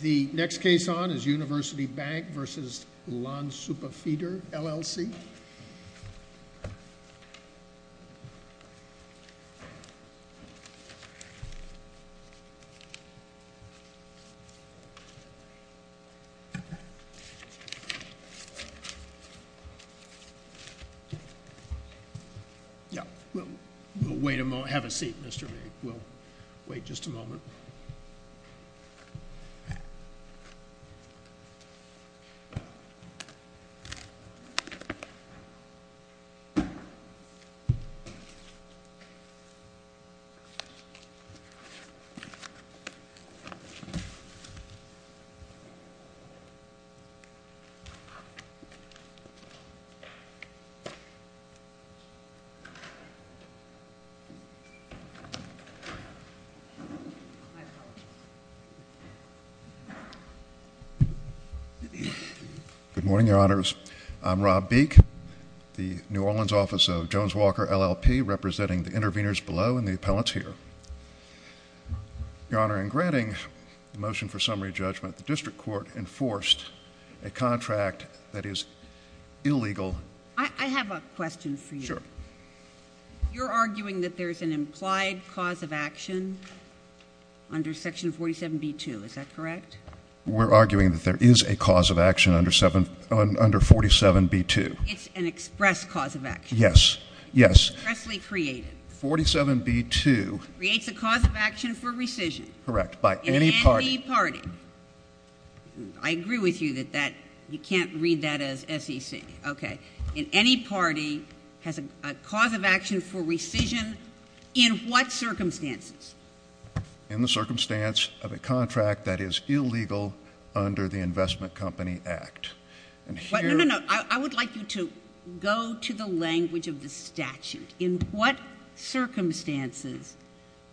The next case on is University Bank v. Lansuppe Feeder, LLC. We'll wait a moment. Have a seat, Mr. Lee. We'll wait just a moment. Good morning, Your Honors. I'm Rob Beek, the New Orleans Office of Jones-Walker, LLP, representing the interveners below and the appellants here. Your Honor, in granting the motion for summary judgment, the District Court enforced a contract that is illegal. I have a question for you. Sure. You're arguing that there's an implied cause of action under Section 47b-2, is that correct? We're arguing that there is a cause of action under 47b-2. It's an express cause of action. Yes. Yes. Expressly created. 47b-2. Creates a cause of action for rescission. Correct. By any party. In any party. I agree with you that that, you can't read that as SEC. Okay. In any party has a cause of action for rescission in what circumstances? In the circumstance of a contract that is illegal under the Investment Company Act. And here— No, no, no. I would like you to go to the language of the statute. In what circumstances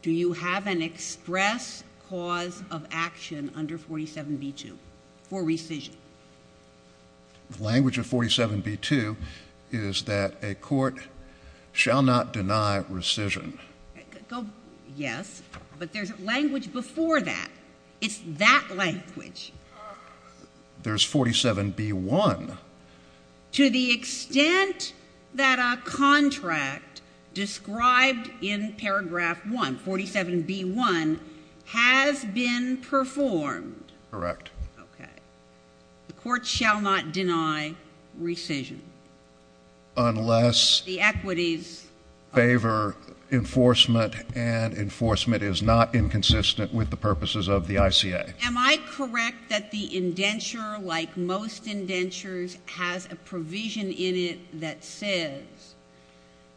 do you have an express cause of action under 47b-2 for rescission? The language of 47b-2 is that a court shall not deny rescission. Yes. But there's language before that. It's that language. There's 47b-1. To the extent that a contract described in paragraph 1, 47b-1, has been performed. Correct. Okay. The court shall not deny rescission. Unless— The equities— —favor enforcement, and enforcement is not inconsistent with the purposes of the ICA. Am I correct that the indenture, like most indentures, has a provision in it that says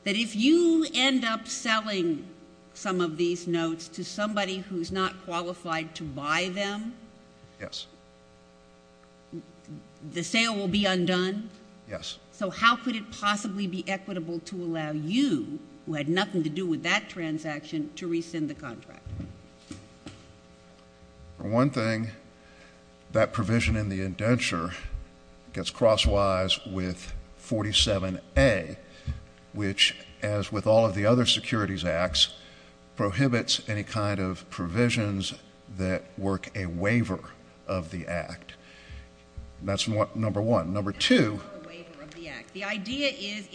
that if you end up selling some of these notes to somebody who's not qualified to buy them— Yes. —the sale will be undone? Yes. So how could it possibly be equitable to allow you, who had nothing to do with that transaction, to rescind the contract? One thing, that provision in the indenture gets crosswise with 47a, which, as with all of the other securities acts, prohibits any kind of provisions that work a waiver of the act. That's number one. Number two— It's not a waiver of the act. The idea is,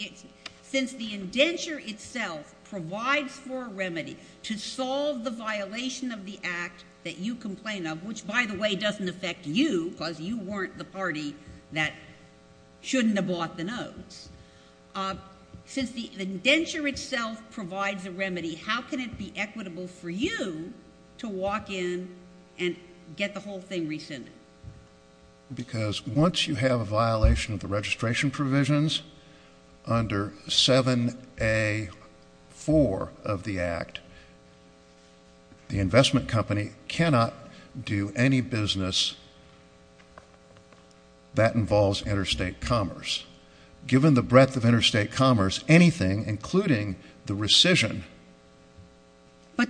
since the indenture itself provides for a remedy to solve the violation of the act that you complain of, which, by the way, doesn't affect you, because you weren't the remedy. How can it be equitable for you to walk in and get the whole thing rescinded? Because once you have a violation of the registration provisions under 7a.4 of the act, the investment company cannot do any business that involves interstate commerce. Given the breadth of interstate commerce, anything, including the rescission,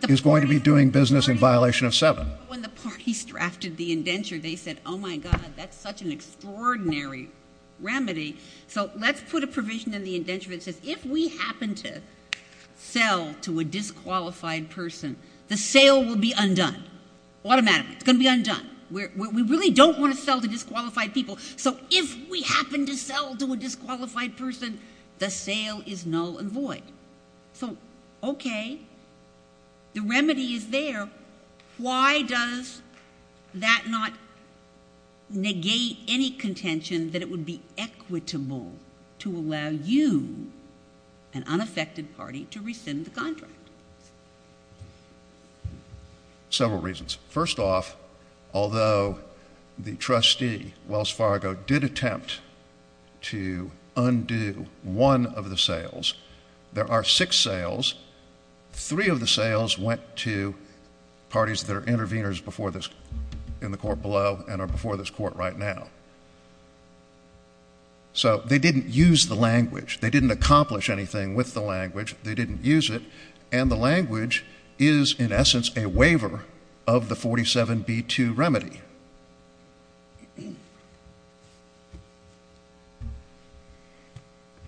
is going to be doing business in violation of 7. When the parties drafted the indenture, they said, oh, my God, that's such an extraordinary remedy. So let's put a provision in the indenture that says, if we happen to sell to a disqualified person, the sale will be undone. Automatically. It's going to be undone. We really don't want to sell to disqualified people. So if we happen to sell to a disqualified person, the sale is null and void. So okay, the remedy is there. Why does that not negate any contention that it would be equitable to allow you, an unaffected party, to rescind the contract? Several reasons. First off, although the trustee, Wells Fargo, did attempt to undo one of the sales, there are six sales. Three of the sales went to parties that are interveners in the court below and are before this court right now. So they didn't use the language. They didn't accomplish anything with the language. They didn't use it. And the language is, in essence, a waiver of the 47B2 remedy.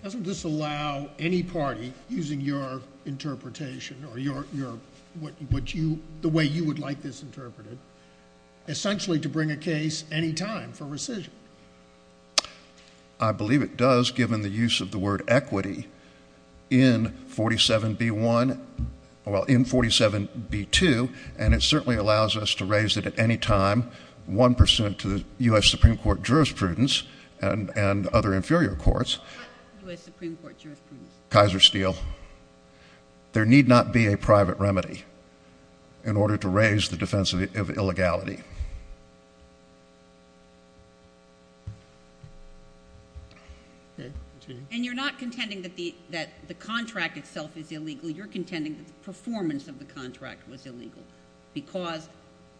Doesn't this allow any party, using your interpretation or the way you would like this interpreted, essentially to bring a case any time for rescission? I believe it does, given the use of the word equity in 47B1, well, in 47B2, and it certainly allows us to raise it at any time, 1% to the U.S. Supreme Court jurisprudence and other inferior courts. What U.S. Supreme Court jurisprudence? Kaiser Steel. So there need not be a private remedy in order to raise the defense of illegality. And you're not contending that the contract itself is illegal. You're contending that the performance of the contract was illegal because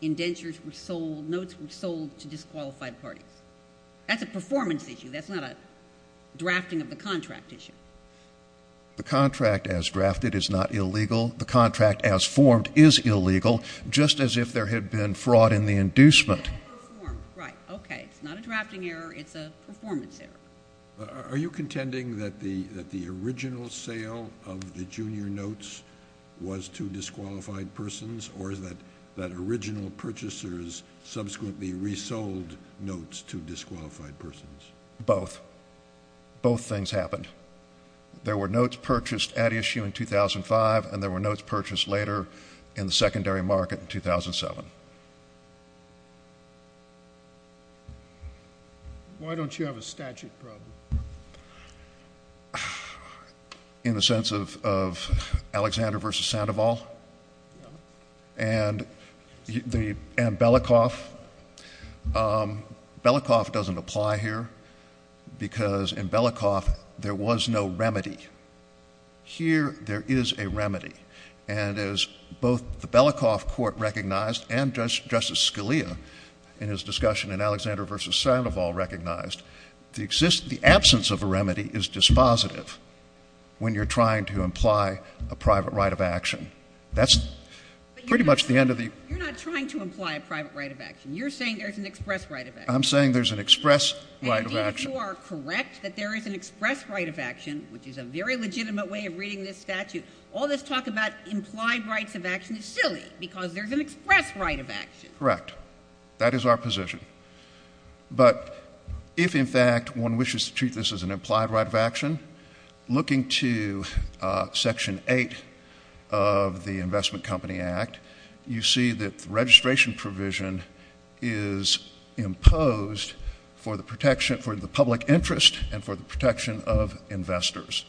indentures were sold, notes were sold to disqualified parties. That's a performance issue. That's not a drafting of the contract issue. The contract as drafted is not illegal. The contract as formed is illegal, just as if there had been fraud in the inducement. Right. Okay. It's not a drafting error. It's a performance error. Are you contending that the original sale of the junior notes was to disqualified persons or that original purchasers subsequently resold notes to disqualified persons? Both. Both things happened. There were notes purchased at issue in 2005, and there were notes purchased later in the secondary market in 2007. Why don't you have a statute problem? In the sense of Alexander v. Sandoval and Belikoff. Belikoff doesn't apply here because in Belikoff there was no remedy. Here there is a remedy, and as both the Belikoff court recognized and Justice Scalia in his discussion in Alexander v. Sandoval recognized, the absence of a remedy is dispositive when you're trying to imply a private right of action. That's pretty much the end of the— You're not trying to imply a private right of action. You're saying there's an express right of action. I'm saying there's an express right of action. And if you are correct that there is an express right of action, which is a very legitimate way of reading this statute, all this talk about implied rights of action is silly because there's an express right of action. Correct. That is our position. But if, in fact, one wishes to treat this as an implied right of action, looking to Section 8 of the Investment Company Act, you see that the registration provision is imposed for the protection—for the public interest and for the protection of investors.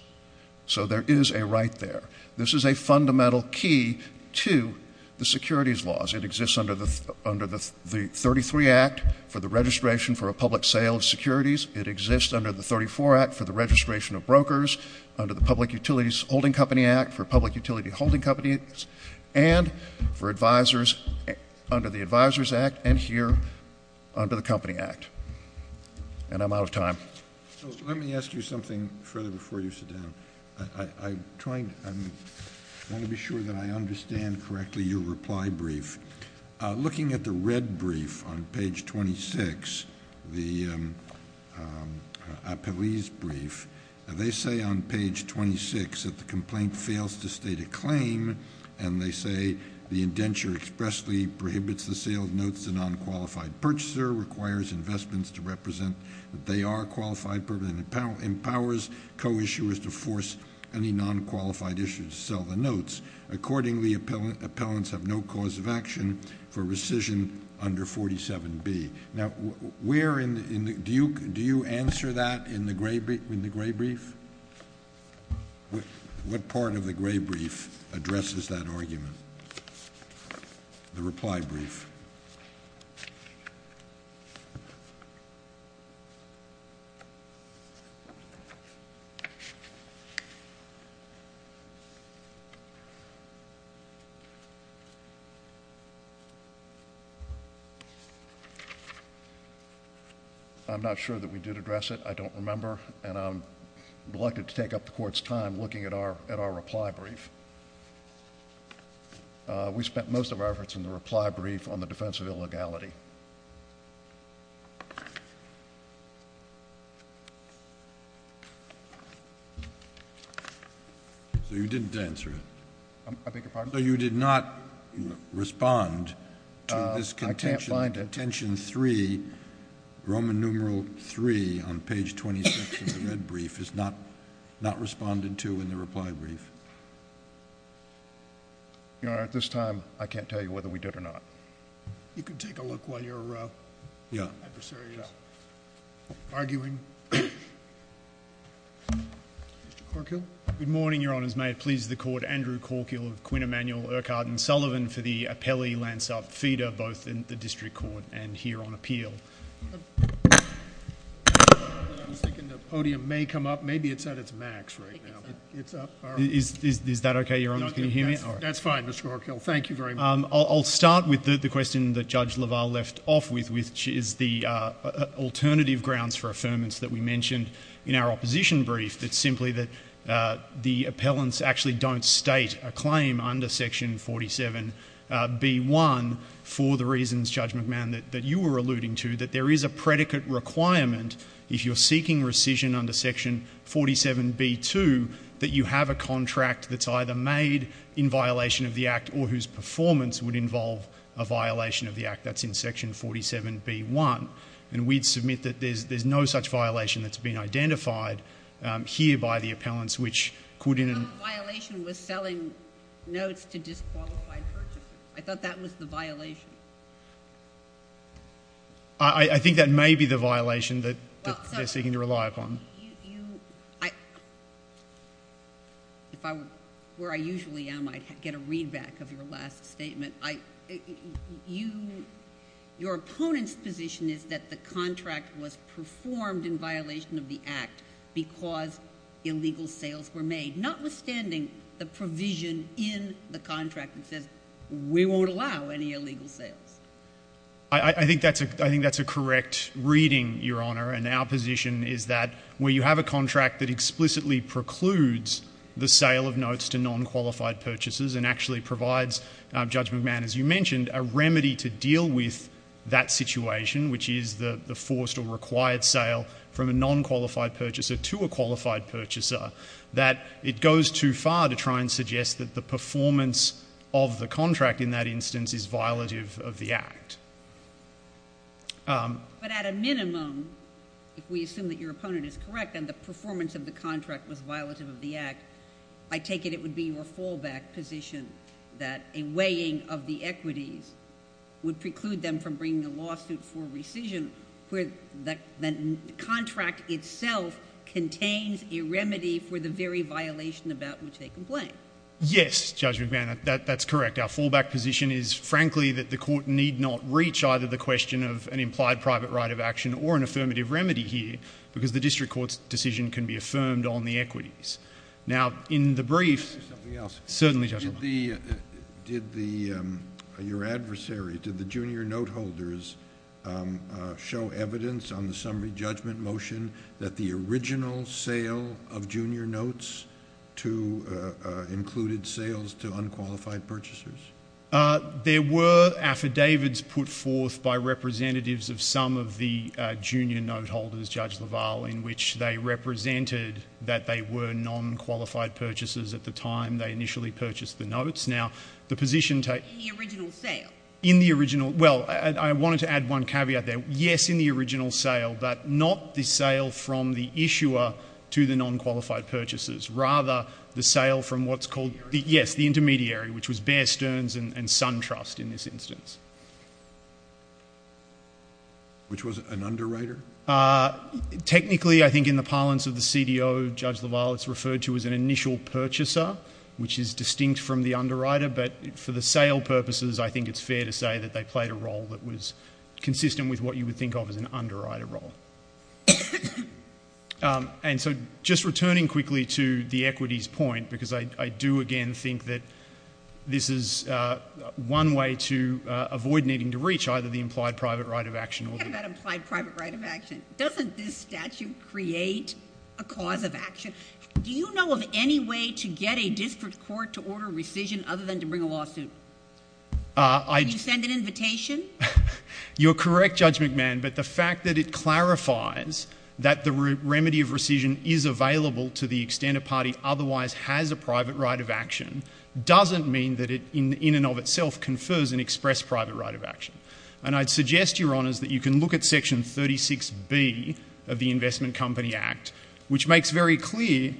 So there is a right there. This is a fundamental key to the securities laws. It exists under the 33 Act for the registration for a public sale of securities. It exists under the 34 Act for the registration of brokers, under the Public Utilities Holding Company Act for public utility holding companies, and for advisers under the Advisers Act and here under the Company Act. And I'm out of time. So let me ask you something further before you sit down. I'm trying—I want to be sure that I understand correctly your reply brief. Looking at the red brief on page 26, the appellees' brief, they say on page 26 that the complaint fails to state a claim, and they say the indenture expressly prohibits the sale of notes to nonqualified purchasers, requires investments to represent that they are qualified purchasers, and empowers co-issuers to force any nonqualified issuers to sell the notes. Accordingly, appellants have no cause of action for rescission under 47B. Now, where in—do you answer that in the gray brief? What part of the gray brief addresses that argument? The reply brief. I'm not sure that we did address it. I don't remember, and I'm reluctant to take up the Court's time looking at our reply brief. We spent most of our efforts in the reply brief on the defense of illegality. So you didn't answer it? I beg your pardon? So you did not respond to this contention— I can't find it. —Contention 3, Roman numeral 3, on page 26 of the red brief, is not responded to in the reply brief? Your Honor, at this time, I can't tell you whether we did or not. You can take a look while your adversary is arguing. Mr. Corkill? Good morning, Your Honors. May it please the Court, Andrew Corkill of Quinn Emanuel, Urquhart & Sullivan, for the appellee, Lance Upfeeder, both in the District Court and here on appeal. I was thinking the podium may come up. Maybe it's at its max right now. It's up? Is that okay, Your Honors? That's fine, Mr. Corkill. Thank you very much. I'll start with the question that Judge LaValle left off with, which is the alternative grounds for affirmance that we mentioned in our opposition brief. It's simply that the appellants actually don't state a claim under section 47b.1 for the reasons, Judge McMahon, that you were alluding to, that there is a predicate requirement if you're seeking rescission under section 47b.2, that you have a contract that's either made in violation of the Act or whose performance would involve a violation of the Act. That's in section 47b.1. And we'd submit that there's no such violation that's been identified here by the appellants, which could in— No violation was selling notes to disqualified purchasers. I thought that was the violation. I think that may be the violation that they're seeking to rely upon. If I were where I usually am, I'd get a readback of your last statement. Your opponent's position is that the contract was performed in violation of the Act because illegal sales were made, notwithstanding the provision in the contract that says we won't allow any illegal sales. I think that's a correct reading, Your Honor. And our position is that where you have a contract that explicitly precludes the sale of notes to non-qualified purchasers and actually provides, Judge McMahon, as you mentioned, a remedy to deal with that situation, which is the forced or required sale from a non-qualified purchaser to a qualified purchaser, that it goes too far to try and suggest that the performance of the contract in that instance is violative of the Act. But at a minimum, if we assume that your opponent is correct and the performance of the contract was violative of the Act, I take it it would be your fallback position that a weighing of the equities would preclude them from bringing a lawsuit for rescission where the contract itself contains a remedy for the very violation about which they complain. Yes, Judge McMahon, that's correct. Our fallback position is, frankly, that the Court need not reach either the question of an implied private right of action or an affirmative remedy here because the District Court's decision can be affirmed on the equities. Now, in the brief... Something else. Certainly, Judge McMahon. Did the... Did the... Your adversary, did the junior note holders show evidence on the summary judgment motion that the original sale of junior notes to... included sales to unqualified purchasers? There were affidavits put forth by representatives of some of the junior note holders, Judge LaValle, in which they represented that they were non-qualified purchasers at the time they initially purchased the notes. Now, the position... In the original sale? In the original... Well, I wanted to add one caveat there. Yes, in the original sale, but not the sale from the issuer to the non-qualified purchases, rather the sale from what's called... The intermediary? Yes, the intermediary, which was Bear Stearns and SunTrust in this instance. Which was an underwriter? Technically, I think in the parlance of the CDO, Judge LaValle, it's referred to as an initial purchaser, which is distinct from the underwriter, but for the sale purposes, I think it's fair to say that they played a role that was consistent with what you would think of as an underwriter role. And so, just returning quickly to the equities point, because I do, again, think that this is one way to avoid needing to reach either the implied private right of action or... What about implied private right of action? Doesn't this statute create a cause of action? Do you know of any way to get a district court to order rescission other than to bring a lawsuit? Can you send an invitation? You're correct, Judge McMahon, but the fact that it clarifies that the remedy of rescission is available to the extent a party otherwise has a private right of action doesn't mean that it in and of itself confers an expressed private right of action. And I'd suggest, Your Honours, that you can look at Section 36B of the Investment Company Act, which makes very clear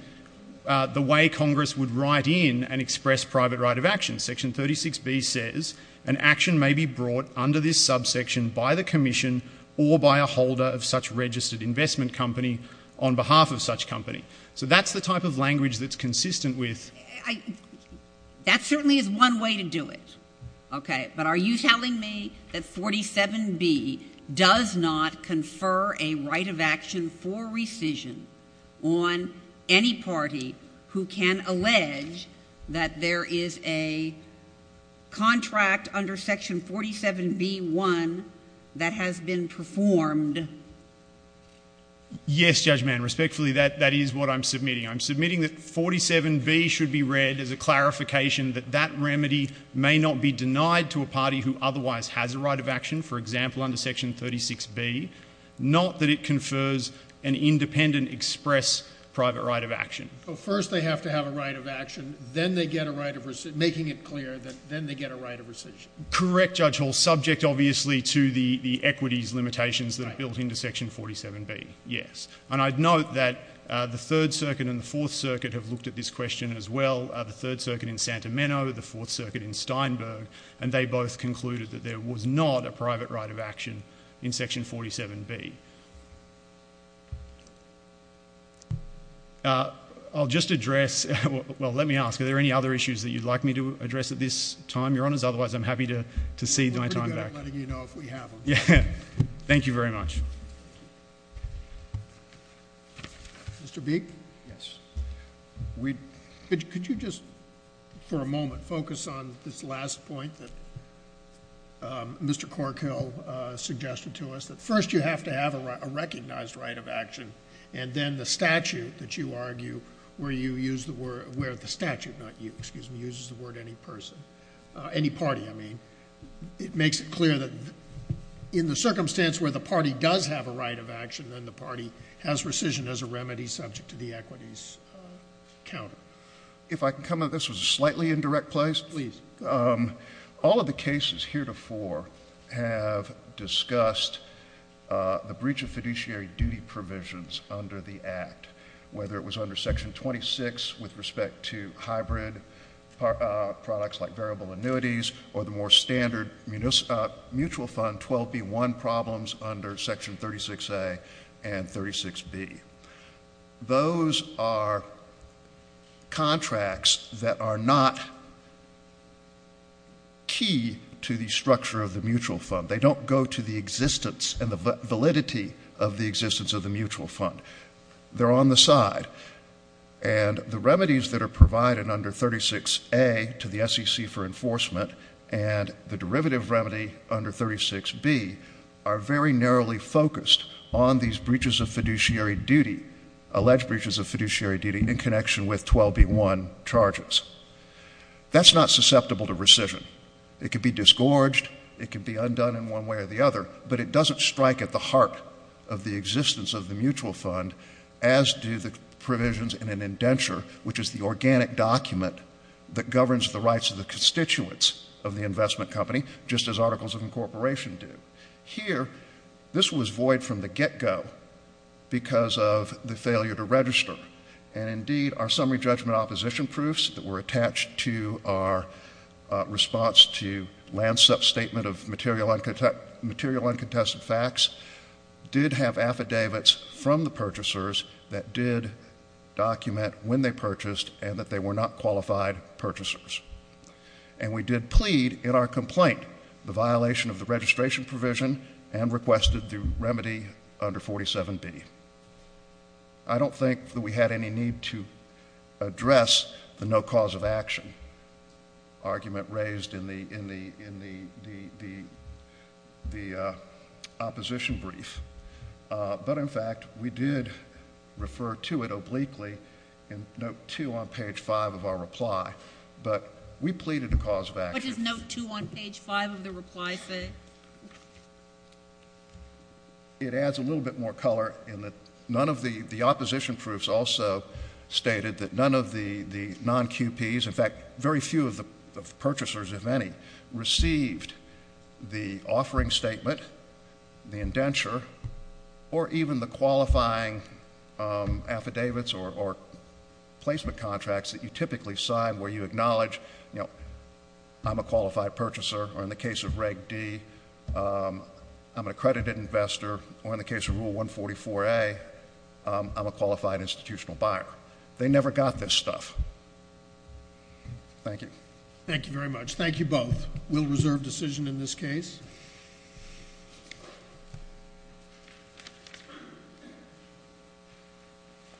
the way Congress would write in an expressed private right of action. Section 36B says, an action may be brought under this subsection by the Commission or by a holder of such registered investment company on behalf of such company. So that's the type of language that's consistent with... That certainly is one way to do it. OK, but are you telling me that 47B does not confer a right of action for rescission on any party who can allege that there is a contract under Section 47B1 that has been performed? Yes, Judge Mann, respectfully, that is what I'm submitting. I'm submitting that 47B should be read as a clarification that that remedy may not be denied to a party who otherwise has a right of action, for example, under Section 36B, not that it confers an independent expressed private right of action. So first they have to have a right of action, then they get a right of rescission, making it clear that then they get a right of rescission. Correct, Judge Hall, subject obviously to the equities limitations that are built into Section 47B, yes. And I'd note that the Third Circuit and the Fourth Circuit have looked at this question as well. The Third Circuit in Santa Mena, the Fourth Circuit in Steinberg, and they both concluded that there was not a private right of action in Section 47B. I'll just address, well, let me ask, are there any other issues that you'd like me to address at this time, Your Honours? Otherwise, I'm happy to cede my time back. We're good at letting you know if we have them. Thank you very much. Mr. Beek? Yes. Could you just, for a moment, focus on this last point that Mr. Corkill suggested to us, that first you have to have a recognized right of action, and then the statute that you argue where you use the word, where the statute, not you, excuse me, uses the word any person, any party, I mean. It makes it clear that in the circumstance where the party does have a right of action, then the party has rescission as a remedy subject to the equities counter. If I can come in, this was a slightly indirect place. Please. All of the cases heretofore have discussed the breach of fiduciary duty provisions under the Act, whether it was under Section 26 with respect to hybrid products like variable annuities or the more standard mutual fund 12B1 problems under Section 36A and 36B. Those are contracts that are not key to the structure of the mutual fund. They don't go to the existence and the validity of the existence of the mutual fund. They're on the side. And the remedies that are provided under 36A to the SEC for enforcement and the derivative remedy under 36B are very narrowly focused on these breaches of fiduciary duty, alleged breaches of fiduciary duty in connection with 12B1 charges. That's not susceptible to rescission. It could be disgorged. It could be undone in one way or the other. But it doesn't strike at the heart of the existence of the mutual fund, as do the provisions in an indenture, which is the organic document that governs the rights of the constituents of the investment company, just as articles of incorporation do. Here, this was void from the get-go because of the failure to register. And indeed, our summary judgment opposition proofs that were attached to our response to Lansup's statement of material uncontested facts did have affidavits from the purchasers that did document when they purchased and that they were not qualified purchasers. And we did plead in our complaint the violation of the registration provision and requested the remedy under 47B. I don't think that we had any need to address the no cause of action argument raised in the opposition brief. But, in fact, we did refer to it obliquely in note 2 on page 5 of our reply. But we pleaded the cause of action. What does note 2 on page 5 of the reply say? It adds a little bit more color in that none of the opposition proofs also stated that none of the non-QPs, in fact, very few of the purchasers, if any, received the offering statement, the indenture, or even the qualifying affidavits or placement contracts that you typically sign where you acknowledge, you know, I'm a qualified purchaser, or in the case of Reg D, I'm an accredited investor, or in the case of Rule 144A, I'm a qualified institutional buyer. They never got this stuff. Thank you. Thank you very much. Thank you both. We'll reserve decision in this case.